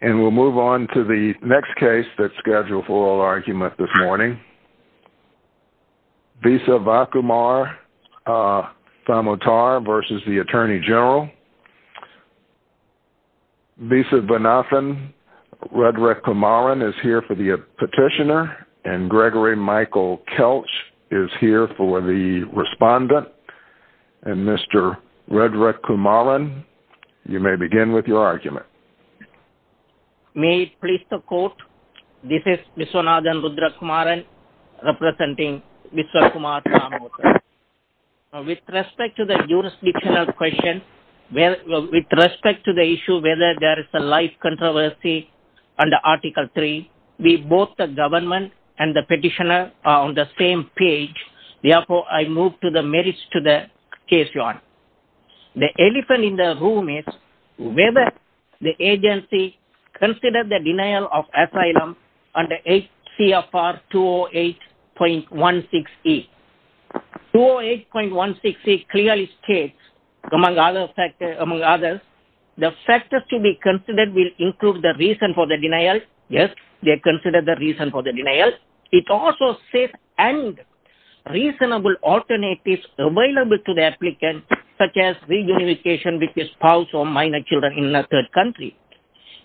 and we'll move on to the next case that's scheduled for oral argument this morning. Visa Vakumar-Samotar v. Attorney General Visa Vanathan, Rudrakumaran is here for the petitioner and Gregory Michael Kelch is here for the respondent and Mr. Rudrakumaran you may begin with your argument. May it please the court, this is Viswanathan Rudrakumaran representing Visvakumar-Samotar. With respect to the jurisdictional question, with respect to the issue whether there is a life controversy under Article 3, we both the government and the petitioner are on the same page, therefore I move to the merits to the case your honor. The elephant in the room is whether the agency considers the denial of asylum under HCFR 208.16E. 208.16E clearly states among others the factors to be considered will include the reason for the denial, yes they consider the reason for the denial. It also says and reasonable alternatives available to the applicant such as reunification with the spouse or minor children in a third country.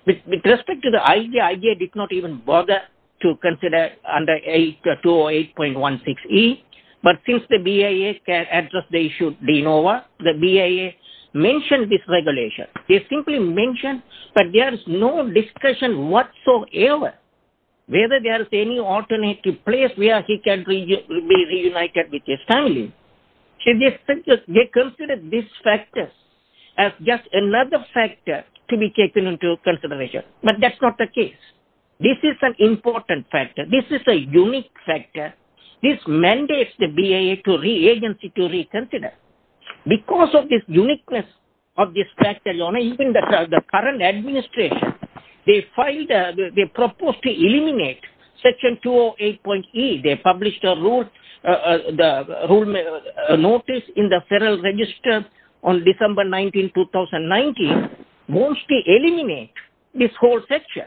With respect to the IJA, IJA did not even bother to consider under 208.16E, but since the BIA can address the issue, they know what, the BIA mentioned this regulation. They simply mentioned that there is no discussion whatsoever whether there is any alternative place where he can be reunited with his family. They consider these factors as just another factor to be taken into consideration, but that's not the case. This is an important factor, this is a unique factor, this mandates the BIA agency to reconsider. Because of this uniqueness of this factor, your honor, even the current administration, they filed, they proposed to eliminate section 208.E. They published a rule notice in the Federal Register on December 19, 2019, wants to eliminate this whole section.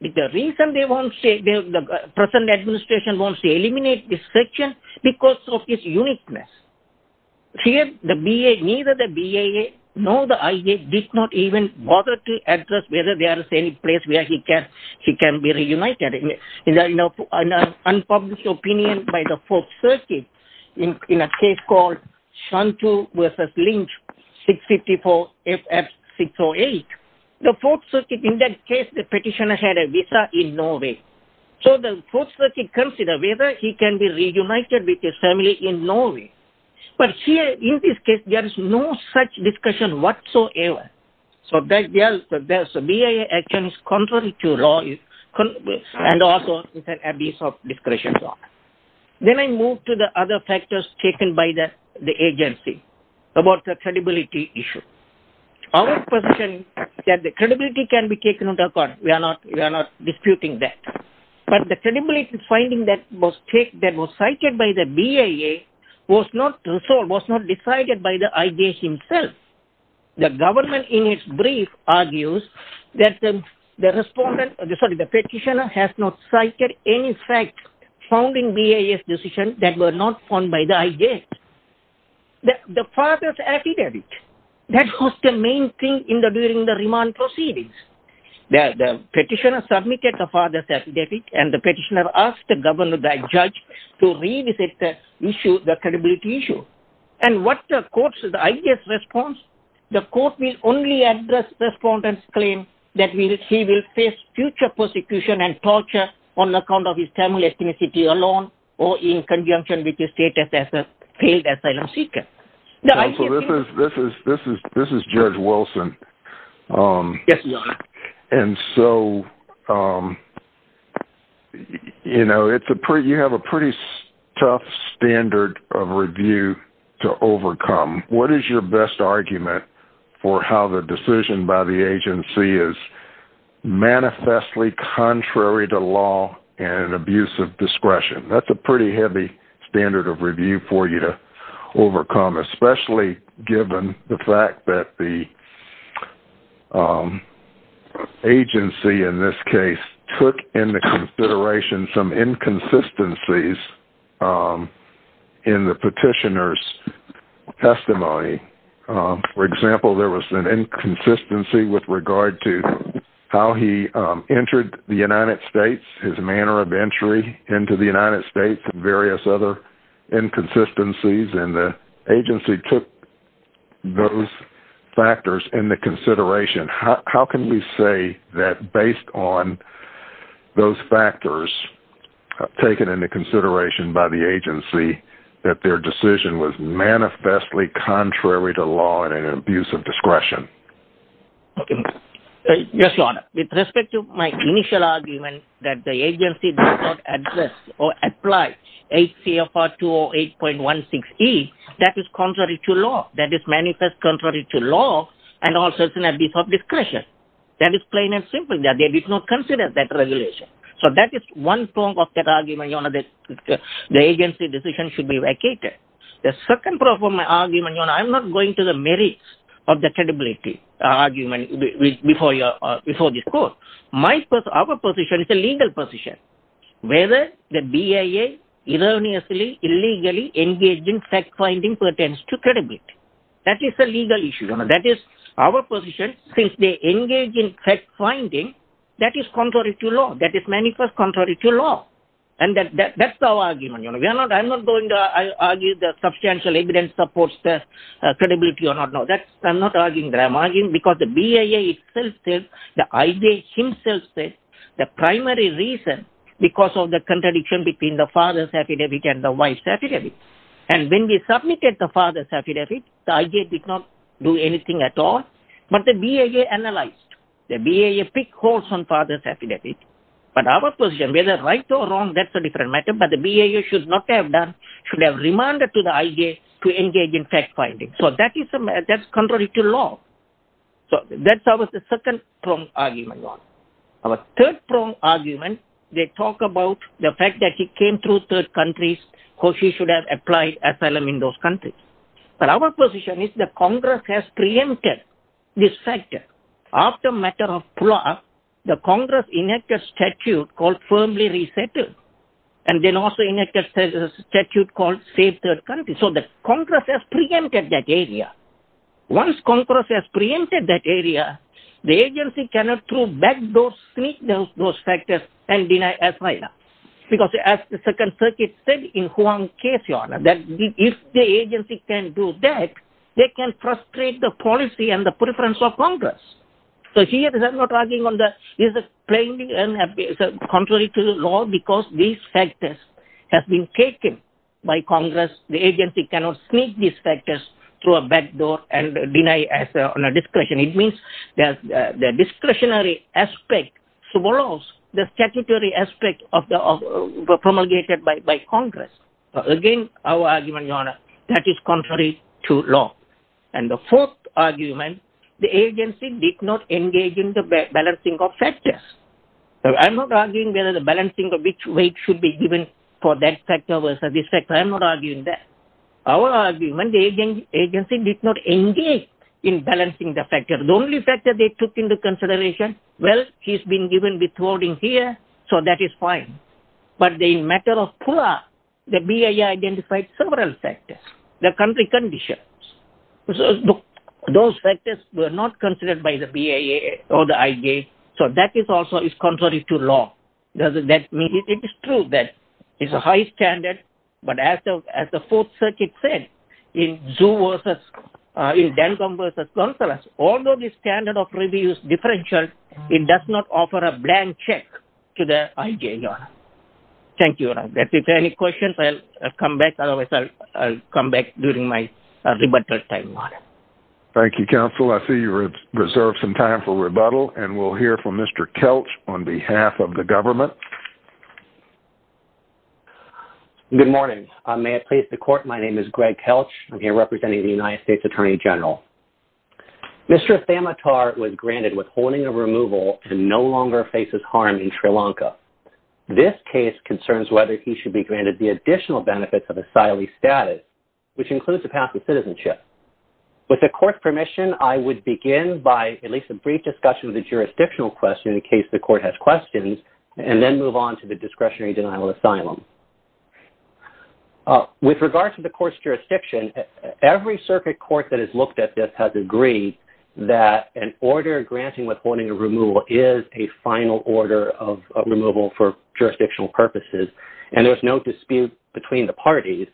The reason the present administration wants to eliminate this section is because of its uniqueness. Here neither the BIA nor the IJA did not even bother to address whether there is any place where he can be reunited. An unpublished opinion by the 4th Circuit in a case called Shantu v. Lynch 654 FF 608. The 4th Circuit in that case, the petitioner had a visa in Norway. So the 4th Circuit considered whether he can be reunited with his family in Norway. But here in this case there is no such discussion whatsoever. So BIA action is contrary to law and also is an abuse of discretion. Then I move to the other factors taken by the agency about the credibility issue. Our position is that the credibility can be taken into account, we are not disputing that. But the credibility finding that was cited by the BIA was not resolved, was not decided by the IJA himself. The government in its brief argues that the petitioner has not cited any fact found in BIA's decision that were not found by the IJA. The father's affidavit, that was the main thing during the remand proceedings. The petitioner submitted the father's affidavit and the petitioner asked the judge to revisit the credibility issue. And what the court's, the IJA's response? The court will only address respondent's claim that he will face future persecution and torture on account of his family ethnicity alone or in conjunction with his status as a failed asylum seeker. This is Judge Wilson. Yes, your honor. And so, you know, you have a pretty tough standard of review to overcome. What is your best argument for how the decision by the agency is manifestly contrary to law and an abuse of discretion? That's a pretty heavy standard of review for you to overcome, especially given the fact that the agency in this case took into consideration some inconsistencies in the petitioner's testimony. For example, there was an inconsistency with regard to how he entered the United States, his manner of entry into the United States and various other inconsistencies and the agency took those factors into consideration. How can you say that based on those factors taken into consideration by the agency that their decision was manifestly contrary to law and an abuse of discretion? Yes, your honor. With respect to my initial argument that the agency did not address or apply HCFR 208.16E, that is contrary to law. That is manifest contrary to law and also an abuse of discretion. That is plain and simple. They did not consider that regulation. So that is one form of that argument, your honor, that the agency decision should be vacated. The second part of my argument, your honor, I'm not going to the merits of the credibility argument before this course. Our position is a legal position. Whether the BIA erroneously, illegally engaged in fact-finding pertains to credibility. That is a legal issue, your honor. That is our position. Since they engage in fact-finding, that is contrary to law. That is manifest contrary to law. And that's our argument, your honor. I'm not going to argue that substantial evidence supports the credibility or not. I'm not arguing that. I'm arguing because the BIA itself says, the IJ himself says, the primary reason because of the contradiction between the father's affidavit and the wife's affidavit. And when we submitted the father's affidavit, the IJ did not do anything at all. But the BIA analyzed. The BIA picked holes on father's affidavit. But our position, whether right or wrong, that's a different matter. But the BIA should not have done, should have remanded to the IJ to engage in fact-finding. So that is contrary to law. So that's our second-pronged argument, your honor. Our third-pronged argument, they talk about the fact that he came through third countries. Hoshi should have applied asylum in those countries. But our position is that Congress has preempted this factor. After matter of plot, the Congress enacted statute called firmly resettle. And then also enacted statute called save third country. So that Congress has preempted that area. Once Congress has preempted that area, the agency cannot throw back those factors and deny asylum. Because as the Second Circuit said in Huang's case, your honor, that if the agency can do that, they can frustrate the policy and the preference of Congress. So here they are not arguing on that. This is contrary to the law because these factors have been taken by Congress. The agency cannot sneak these factors through a backdoor and deny asylum on a discretion. It means the discretionary aspect swallows the statutory aspect promulgated by Congress. Again, our argument, your honor, that is contrary to law. And the fourth argument, the agency did not engage in the balancing of factors. I'm not arguing whether the balancing of which weight should be given for that factor versus this factor. I'm not arguing that. Our argument, the agency did not engage in balancing the factor. The only factor they took into consideration, well, he's been given withholding here. So that is fine. But the matter of PUA, the BIA identified several factors, the country conditions. Those factors were not considered by the BIA or the IG. So that is also contrary to law. It is true that it's a high standard. But as the Fourth Circuit said, in Dancombe v. Consolas, although the standard of review is differential, it does not offer a blank check to the IG, your honor. Thank you, your honor. If there are any questions, I'll come back. Otherwise, I'll come back during my rebuttal time, your honor. Thank you, counsel. I see you've reserved some time for rebuttal, and we'll hear from Mr. Kelch on behalf of the government. Good morning. May I please the court? My name is Greg Kelch. I'm here representing the United States Attorney General. Mr. Thamatar was granted withholding of removal and no longer faces harm in Sri Lanka. This case concerns whether he should be granted the additional benefits of asylee status, which includes a path to citizenship. With the court's permission, I would begin by at least a brief discussion of the jurisdictional question in case the court has questions, and then move on to the discretionary denial of asylum. With regard to the court's jurisdiction, every circuit court that has looked at this has agreed that an order granting withholding of removal is a final order of removal for jurisdictional purposes, and there is no dispute between the parties.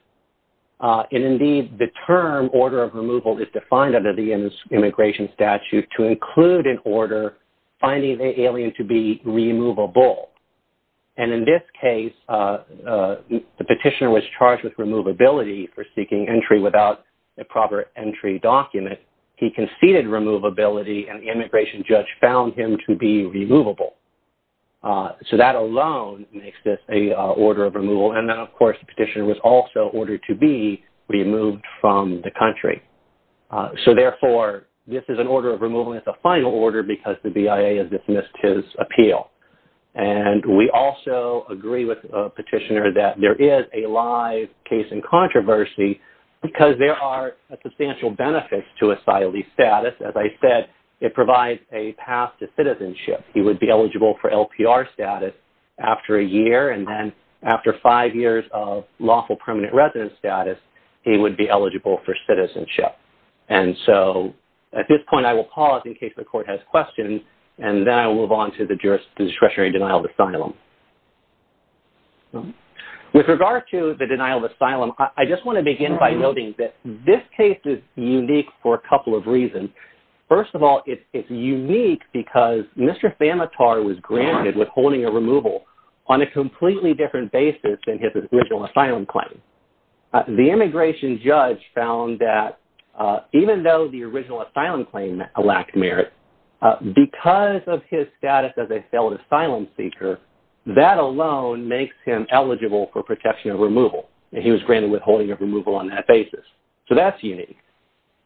And indeed, the term order of removal is defined under the immigration statute to include an order finding the alien to be removable. And in this case, the petitioner was charged with removability for seeking entry without a proper entry document. He conceded removability, and the immigration judge found him to be removable. So that alone makes this an order of removal. And then, of course, the petitioner was also ordered to be removed from the country. So, therefore, this is an order of removal. It's a final order because the BIA has dismissed his appeal. And we also agree with the petitioner that there is a live case in controversy because there are substantial benefits to asylee status. As I said, it provides a path to citizenship. He would be eligible for LPR status after a year, and then after five years of lawful permanent residence status, he would be eligible for citizenship. And so, at this point, I will pause in case the court has questions, and then I will move on to the discretionary denial of asylum. With regard to the denial of asylum, I just want to begin by noting that this case is unique for a couple of reasons. First of all, it's unique because Mr. Famitar was granted withholding of removal on a completely different basis than his original asylum claim. The immigration judge found that even though the original asylum claim lacked merit, because of his status as a failed asylum seeker, that alone makes him eligible for protection of removal. He was granted withholding of removal on that basis. So that's unique.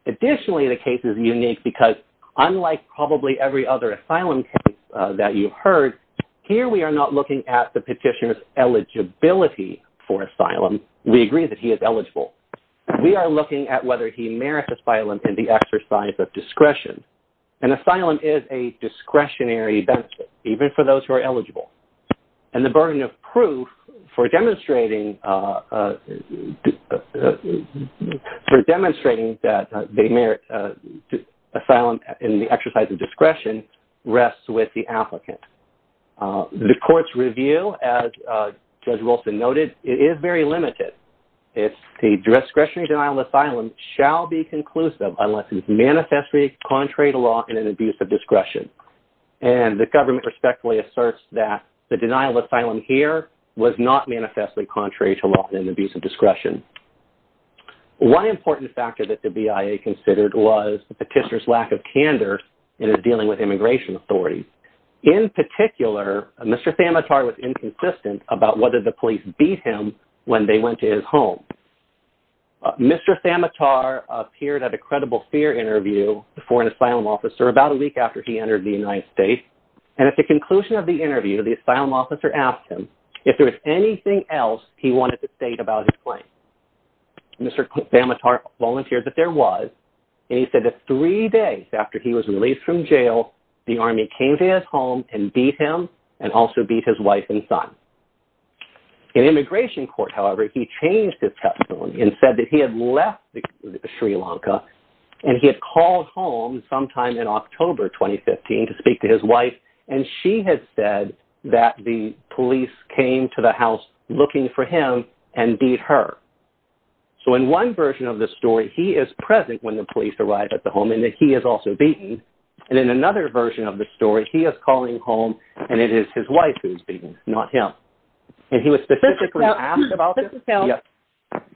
Additionally, the case is unique because unlike probably every other asylum case that you've heard, here we are not looking at the petitioner's eligibility for asylum. We agree that he is eligible. We are looking at whether he merits asylum in the exercise of discretion. And asylum is a discretionary benefit, even for those who are eligible. And the burden of proof for demonstrating that they merit asylum in the exercise of discretion rests with the applicant. The court's review, as Judge Wilson noted, is very limited. It's the discretionary denial of asylum shall be conclusive unless it is manifestly contrary to law and an abuse of discretion. And the government respectfully asserts that the denial of asylum here was not manifestly contrary to law and an abuse of discretion. One important factor that the BIA considered was the petitioner's lack of candor in his dealing with immigration authorities. In particular, Mr. Famitar was inconsistent about whether the police beat him when they went to his home. Mr. Famitar appeared at a Credible Fear interview for an asylum officer about a week after he entered the United States. And at the conclusion of the interview, the asylum officer asked him if there was anything else he wanted to state about his claim. Mr. Famitar volunteered that there was. And he said that three days after he was released from jail, the army came to his home and beat him and also beat his wife and son. In immigration court, however, he changed his testimony and said that he had left Sri Lanka. And he had called home sometime in October 2015 to speak to his wife. And she had said that the police came to the house looking for him and beat her. So in one version of the story, he is present when the police arrive at the home and that he is also beaten. And in another version of the story, he is calling home and it is his wife who is beaten, not him. And he was specifically asked about this.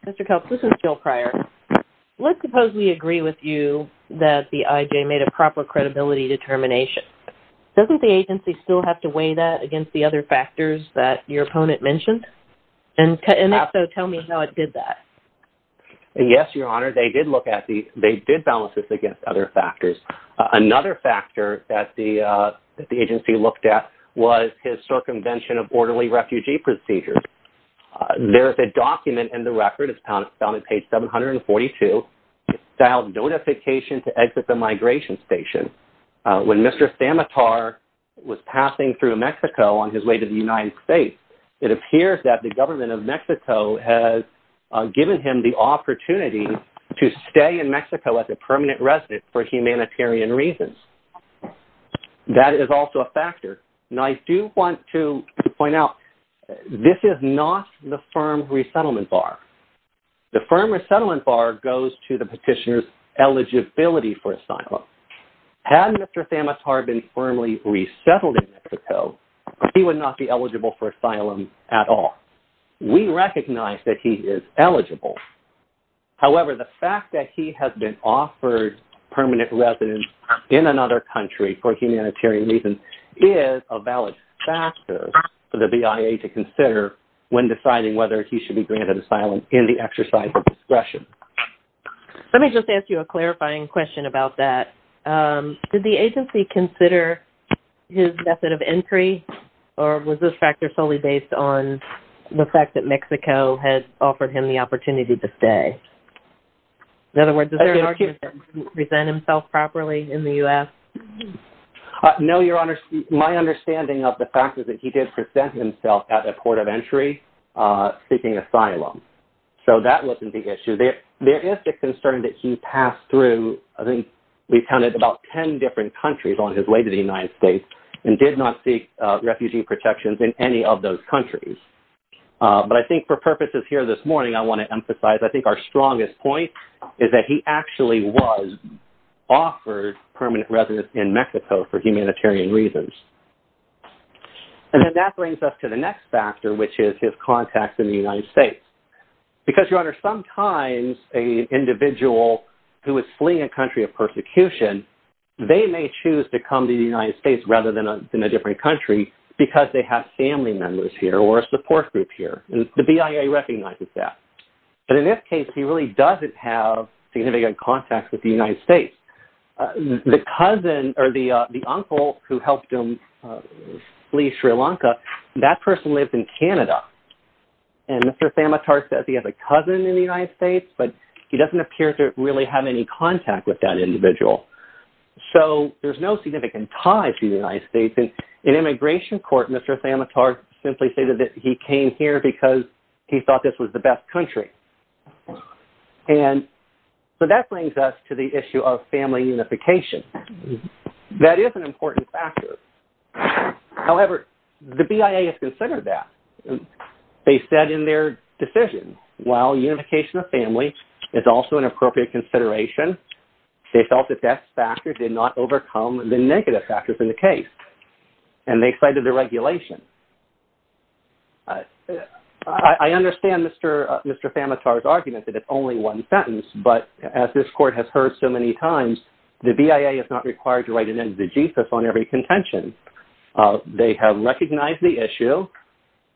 Mr. Kelce, this is Jill Pryor. Let's suppose we agree with you that the IJ made a proper credibility determination. Doesn't the agency still have to weigh that against the other factors that your opponent mentioned? And if so, tell me how it did that. Yes, Your Honor, they did look at the-they did balance this against other factors. Another factor that the agency looked at was his circumvention of orderly refugee procedures. There is a document in the record. It's found on page 742. It's filed notification to exit the migration station. When Mr. Samatar was passing through Mexico on his way to the United States, it appears that the government of Mexico has given him the opportunity to stay in Mexico as a permanent resident for humanitarian reasons. That is also a factor. Now, I do want to point out, this is not the firm resettlement bar. The firm resettlement bar goes to the petitioner's eligibility for asylum. Had Mr. Samatar been firmly resettled in Mexico, he would not be eligible for asylum at all. We recognize that he is eligible. However, the fact that he has been offered permanent residence in another country for humanitarian reasons is a valid factor for the BIA to consider when deciding whether he should be granted asylum in the exercise of discretion. Let me just ask you a clarifying question about that. Did the agency consider his method of entry, or was this factor solely based on the fact that Mexico had offered him the opportunity to stay? In other words, is there an argument that he didn't present himself properly in the U.S.? No, Your Honor. My understanding of the fact is that he did present himself at the port of entry seeking asylum. So that wasn't the issue. There is a concern that he passed through, I think we counted about 10 different countries on his way to the United States, and did not seek refugee protections in any of those countries. But I think for purposes here this morning, I want to emphasize, I think our strongest point is that he actually was offered permanent residence in Mexico for humanitarian reasons. And then that brings us to the next factor, which is his contact in the United States. Because, Your Honor, sometimes an individual who is fleeing a country of persecution, they may choose to come to the United States rather than a different country because they have family members here or a support group here. The BIA recognizes that. But in this case, he really doesn't have significant contact with the United States. The cousin or the uncle who helped him flee Sri Lanka, that person lives in Canada. And Mr. Samatar says he has a cousin in the United States, but he doesn't appear to really have any contact with that individual. So there's no significant ties to the United States. In immigration court, Mr. Samatar simply stated that he came here because he thought this was the best country. And so that brings us to the issue of family unification. That is an important factor. However, the BIA has considered that. They said in their decision, well, unification of family is also an appropriate consideration. They felt that that factor did not overcome the negative factors in the case. And they cited the regulation. I understand Mr. Samatar's argument that it's only one sentence. But as this court has heard so many times, the BIA is not required to write an end to the Jesus on every contention. They have recognized the issue.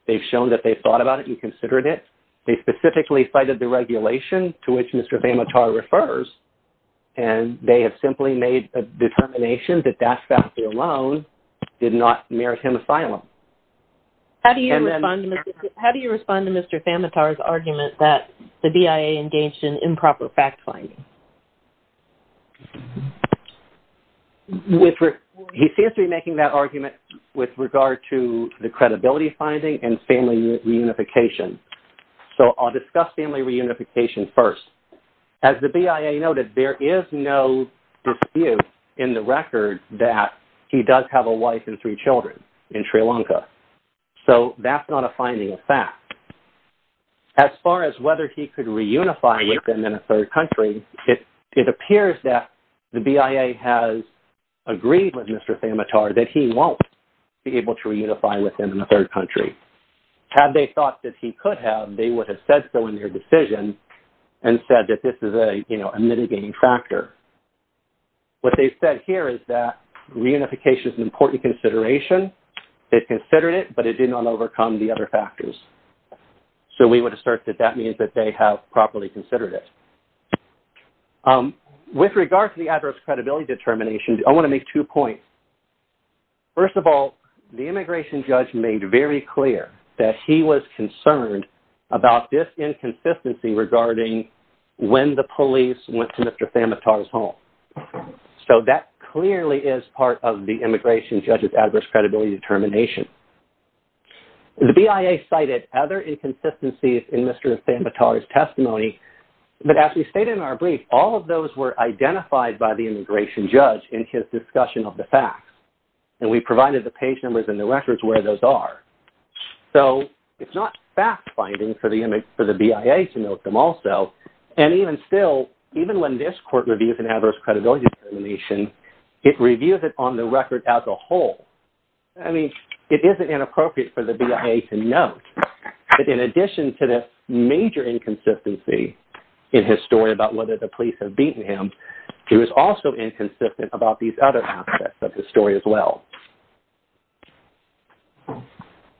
They've shown that they've thought about it and considered it. They specifically cited the regulation to which Mr. Samatar refers. And they have simply made a determination that that factor alone did not merit him asylum. How do you respond to Mr. Samatar's argument that the BIA engaged in improper fact-finding? He seems to be making that argument with regard to the credibility finding and family reunification. So I'll discuss family reunification first. As the BIA noted, there is no dispute in the record that he does have a wife and three children in Sri Lanka. So that's not a finding of fact. As far as whether he could reunify with them in a third country, it appears that the BIA has agreed with Mr. Samatar that he won't be able to reunify with them in a third country. Had they thought that he could have, they would have said so in their decision. And said that this is a, you know, a mitigating factor. What they've said here is that reunification is an important consideration. They've considered it, but it did not overcome the other factors. So we would assert that that means that they have properly considered it. With regard to the adverse credibility determination, I want to make two points. First of all, the immigration judge made very clear that he was concerned about this inconsistency regarding when the police went to Mr. Samatar's home. So that clearly is part of the immigration judge's adverse credibility determination. The BIA cited other inconsistencies in Mr. Samatar's testimony, but as we stated in our brief, all of those were identified by the immigration judge in his discussion of the facts. And we provided the page numbers and the records where those are. So it's not fact-finding for the BIA to note them also. And even still, even when this court reviews an adverse credibility determination, it reviews it on the record as a whole. I mean, it isn't inappropriate for the BIA to note that in addition to this major inconsistency, in his story about whether the police have beaten him, he was also inconsistent about these other aspects of his story as well.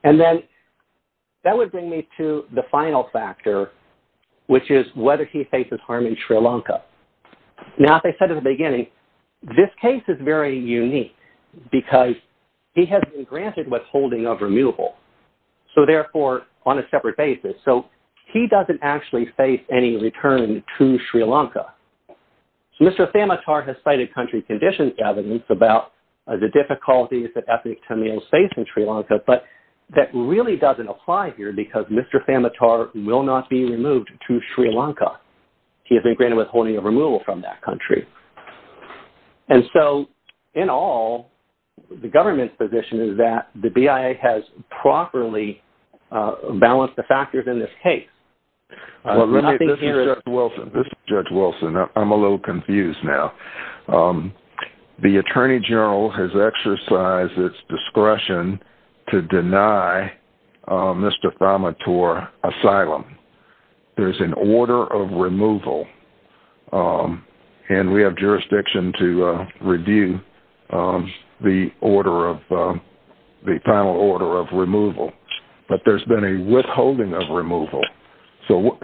And then, that would bring me to the final factor, which is whether he faces harm in Sri Lanka. Now, as I said in the beginning, this case is very unique, because he has been granted withholding of removal. So therefore, on a separate basis. So he doesn't actually face any return to Sri Lanka. So Mr. Samatar has cited country conditions evidence about the difficulties that ethnic Tamils face in Sri Lanka, but that really doesn't apply here, because Mr. Samatar will not be removed to Sri Lanka. He has been granted withholding of removal from that country. And so, in all, the government's position is that the BIA has properly balanced the factors in this case. This is Judge Wilson. I'm a little confused now. The Attorney General has exercised its discretion to deny Mr. Samatar asylum. There's an order of removal. And we have jurisdiction to review the order of, the final order of removal. But there's been a withholding of removal. So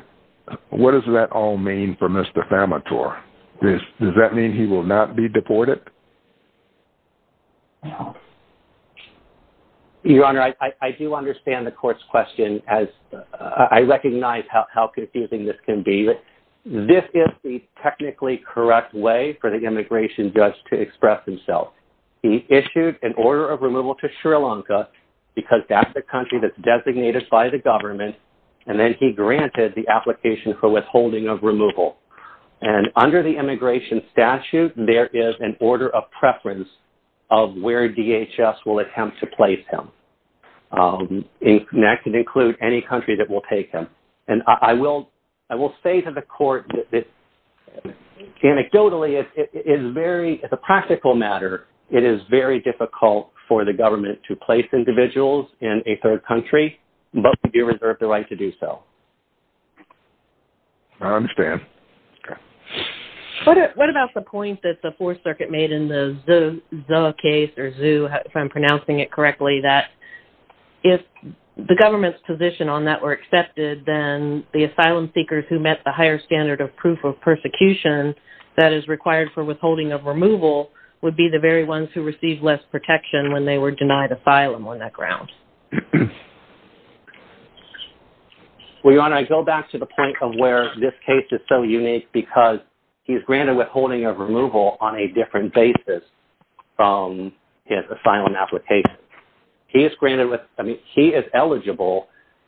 what does that all mean for Mr. Samatar? Does that mean he will not be deported? Your Honor, I do understand the court's question. I recognize how confusing this can be. But this is the technically correct way for the immigration judge to express himself. He issued an order of removal to Sri Lanka, because that's the country that's designated by the government. And then he granted the application for withholding of removal. And under the immigration statute, there is an order of preference of where DHS will attempt to place him. And that can include any country that will take him. And I will say to the court that anecdotally, it's a practical matter. It is very difficult for the government to place individuals in a third country. But we do reserve the right to do so. I understand. What about the point that the Fourth Circuit made in the Zuh case, or Zuh, if I'm pronouncing it correctly, that if the government's position on that were accepted, then the asylum seekers who met the higher standard of proof of persecution that is required for withholding of removal would be the very ones who received less protection when they were denied asylum on that ground. Well, Your Honor, I go back to the point of where this case is so unique, because he's granted withholding of removal on a different basis from his asylum application. He is eligible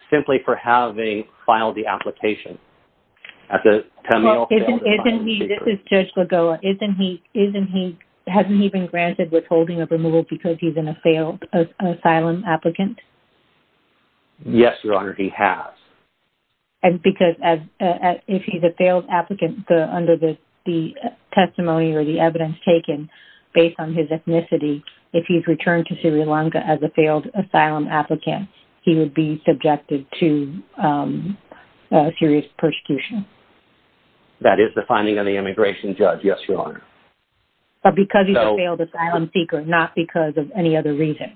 simply for having filed the application. This is Judge Lagoa. Hasn't he been granted withholding of removal because he's a failed asylum applicant? Yes, Your Honor, he has. Because if he's a failed applicant under the testimony or the evidence taken based on his ethnicity, if he's returned to Sri Lanka as a failed asylum applicant, he would be subjected to serious persecution. That is the finding of the immigration judge, yes, Your Honor. But because he's a failed asylum seeker, not because of any other reason.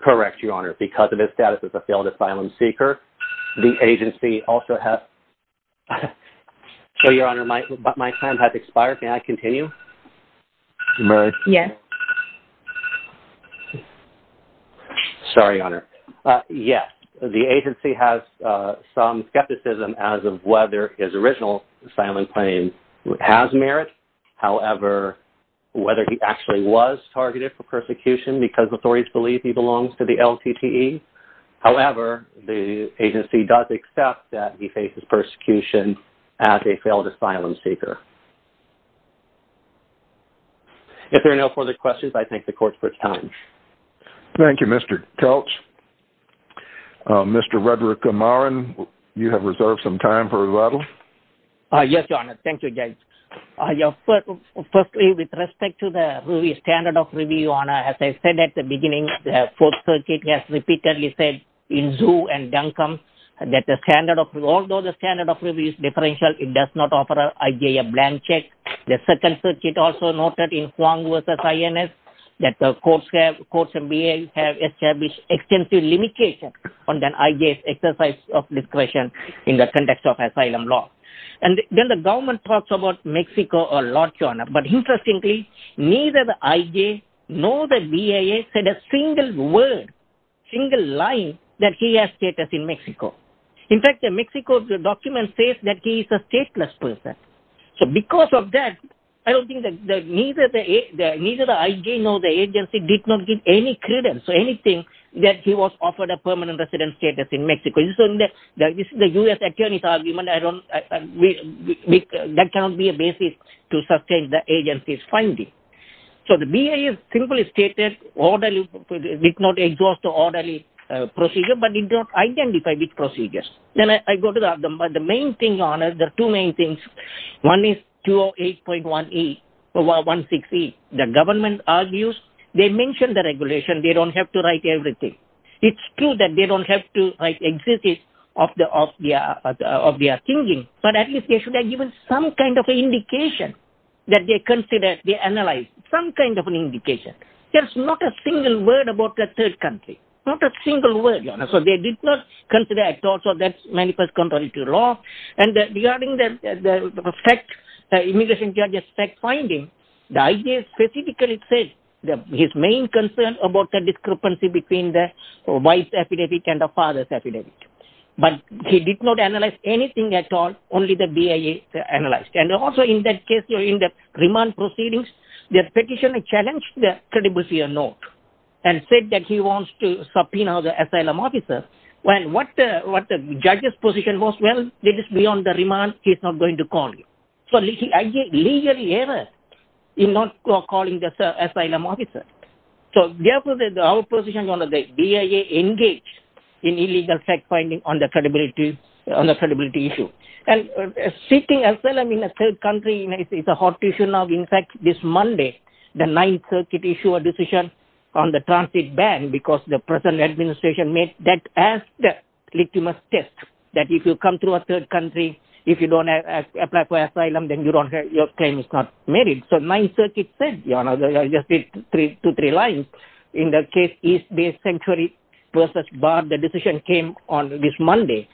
Correct, Your Honor. Because of his status as a failed asylum seeker, the agency also has... So, Your Honor, my time has expired. Can I continue? Yes. Sorry, Your Honor. Yes, the agency has some skepticism as of whether his original asylum claim has merit. However, whether he actually was targeted for persecution because authorities believe he belongs to the LTTE. However, the agency does accept that he faces persecution as a failed asylum seeker. If there are no further questions, I thank the court for its time. Thank you, Mr. Kelch. Mr. Rudra Kumaran, you have reserved some time for rebuttal. Yes, Your Honor. Thank you, Judge. Firstly, with respect to the standard of review, Your Honor, as I said at the beginning, the Fourth Circuit has repeatedly said in Zhu and Duncombe that the standard of review... Although the standard of review is differential, it does not offer an IJF blank check. The Second Circuit also noted in Huang v. INS that the courts and BIA have established extensive limitations on the IJF exercise of discretion in the context of asylum law. And then the government talks about Mexico a lot, Your Honor. But interestingly, neither the IJF nor the BIA said a single word, single line, that he has status in Mexico. In fact, the Mexico document says that he is a stateless person. So because of that, I don't think that neither the IJF nor the agency did not give any credence or anything that he was offered a permanent residence status in Mexico. This is a U.S. attorney's argument. That cannot be a basis to sustain the agency's finding. So the BIA simply stated, did not exhaust an orderly procedure, but did not identify these procedures. Then I go to the main thing, Your Honor, the two main things. One is 208.16E. The government argues, they mention the regulation, they don't have to write everything. It's true that they don't have to write exegesis of their thinking, but at least they should have given some kind of indication that they considered, they analyzed, some kind of an indication. There's not a single word about the third country. Not a single word, Your Honor. So they did not consider at all. So that manifests contrary to law. And regarding the fact, the immigration judge's fact finding, the IJF specifically says that his main concern about the discrepancy between the wife's epidemic and the father's epidemic. But he did not analyze anything at all, only the BIA analyzed. And also in that case, in the remand proceedings, the petitioner challenged the credibility of note and said that he wants to subpoena the asylum officer. What the judge's position was, well, it is beyond the remand. He's not going to call you. So the IJF legally errors in not calling the asylum officer. So therefore, the opposition, the BIA engaged in illegal fact finding on the credibility issue. And seeking asylum in a third country is a hot issue now. In fact, this Monday, the Ninth Circuit issued a decision on the transit ban, because the present administration made that as the litmus test, that if you come to a third country, if you don't apply for asylum, then your claim is not merit. So Ninth Circuit said, Your Honor, I'll just read two, three lines. In the case East Bay Sanctuary versus Bard, the decision came on this Monday.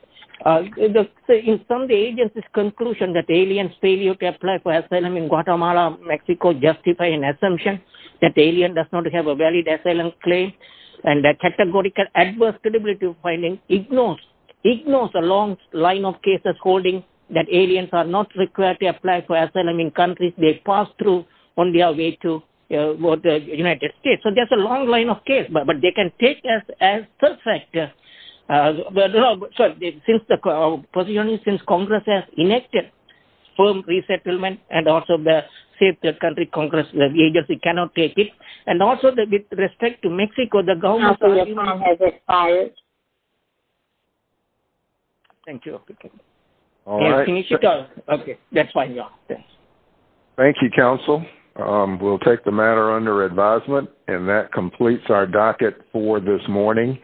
In some, the agency's conclusion that aliens' failure to apply for asylum in Guatemala, Mexico, justify an assumption that the alien does not have a valid asylum claim. And the categorical adverse credibility finding ignores the long line of cases holding that aliens are not required to apply for asylum in countries they pass through on their way to the United States. So there's a long line of cases, but they can take us as a third factor. And since Congress has enacted firm resettlement, and also the safe country Congress, the agency cannot take it. And also, with respect to Mexico, the government has expired. Thank you. Can I finish it? That's fine, Your Honor. Thank you, Counsel. We'll take the matter under advisement. And that completes our docket for this morning.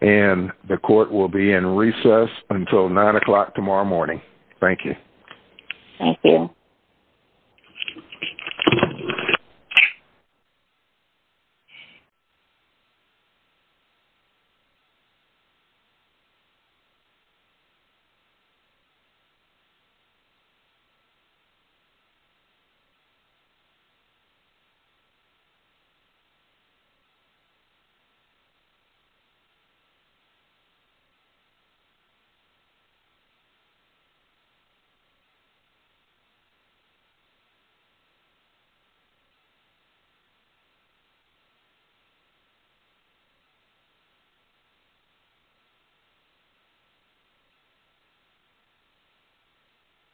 And the Court will be in recess until 9 o'clock tomorrow morning. Thank you. Thank you. Thank you.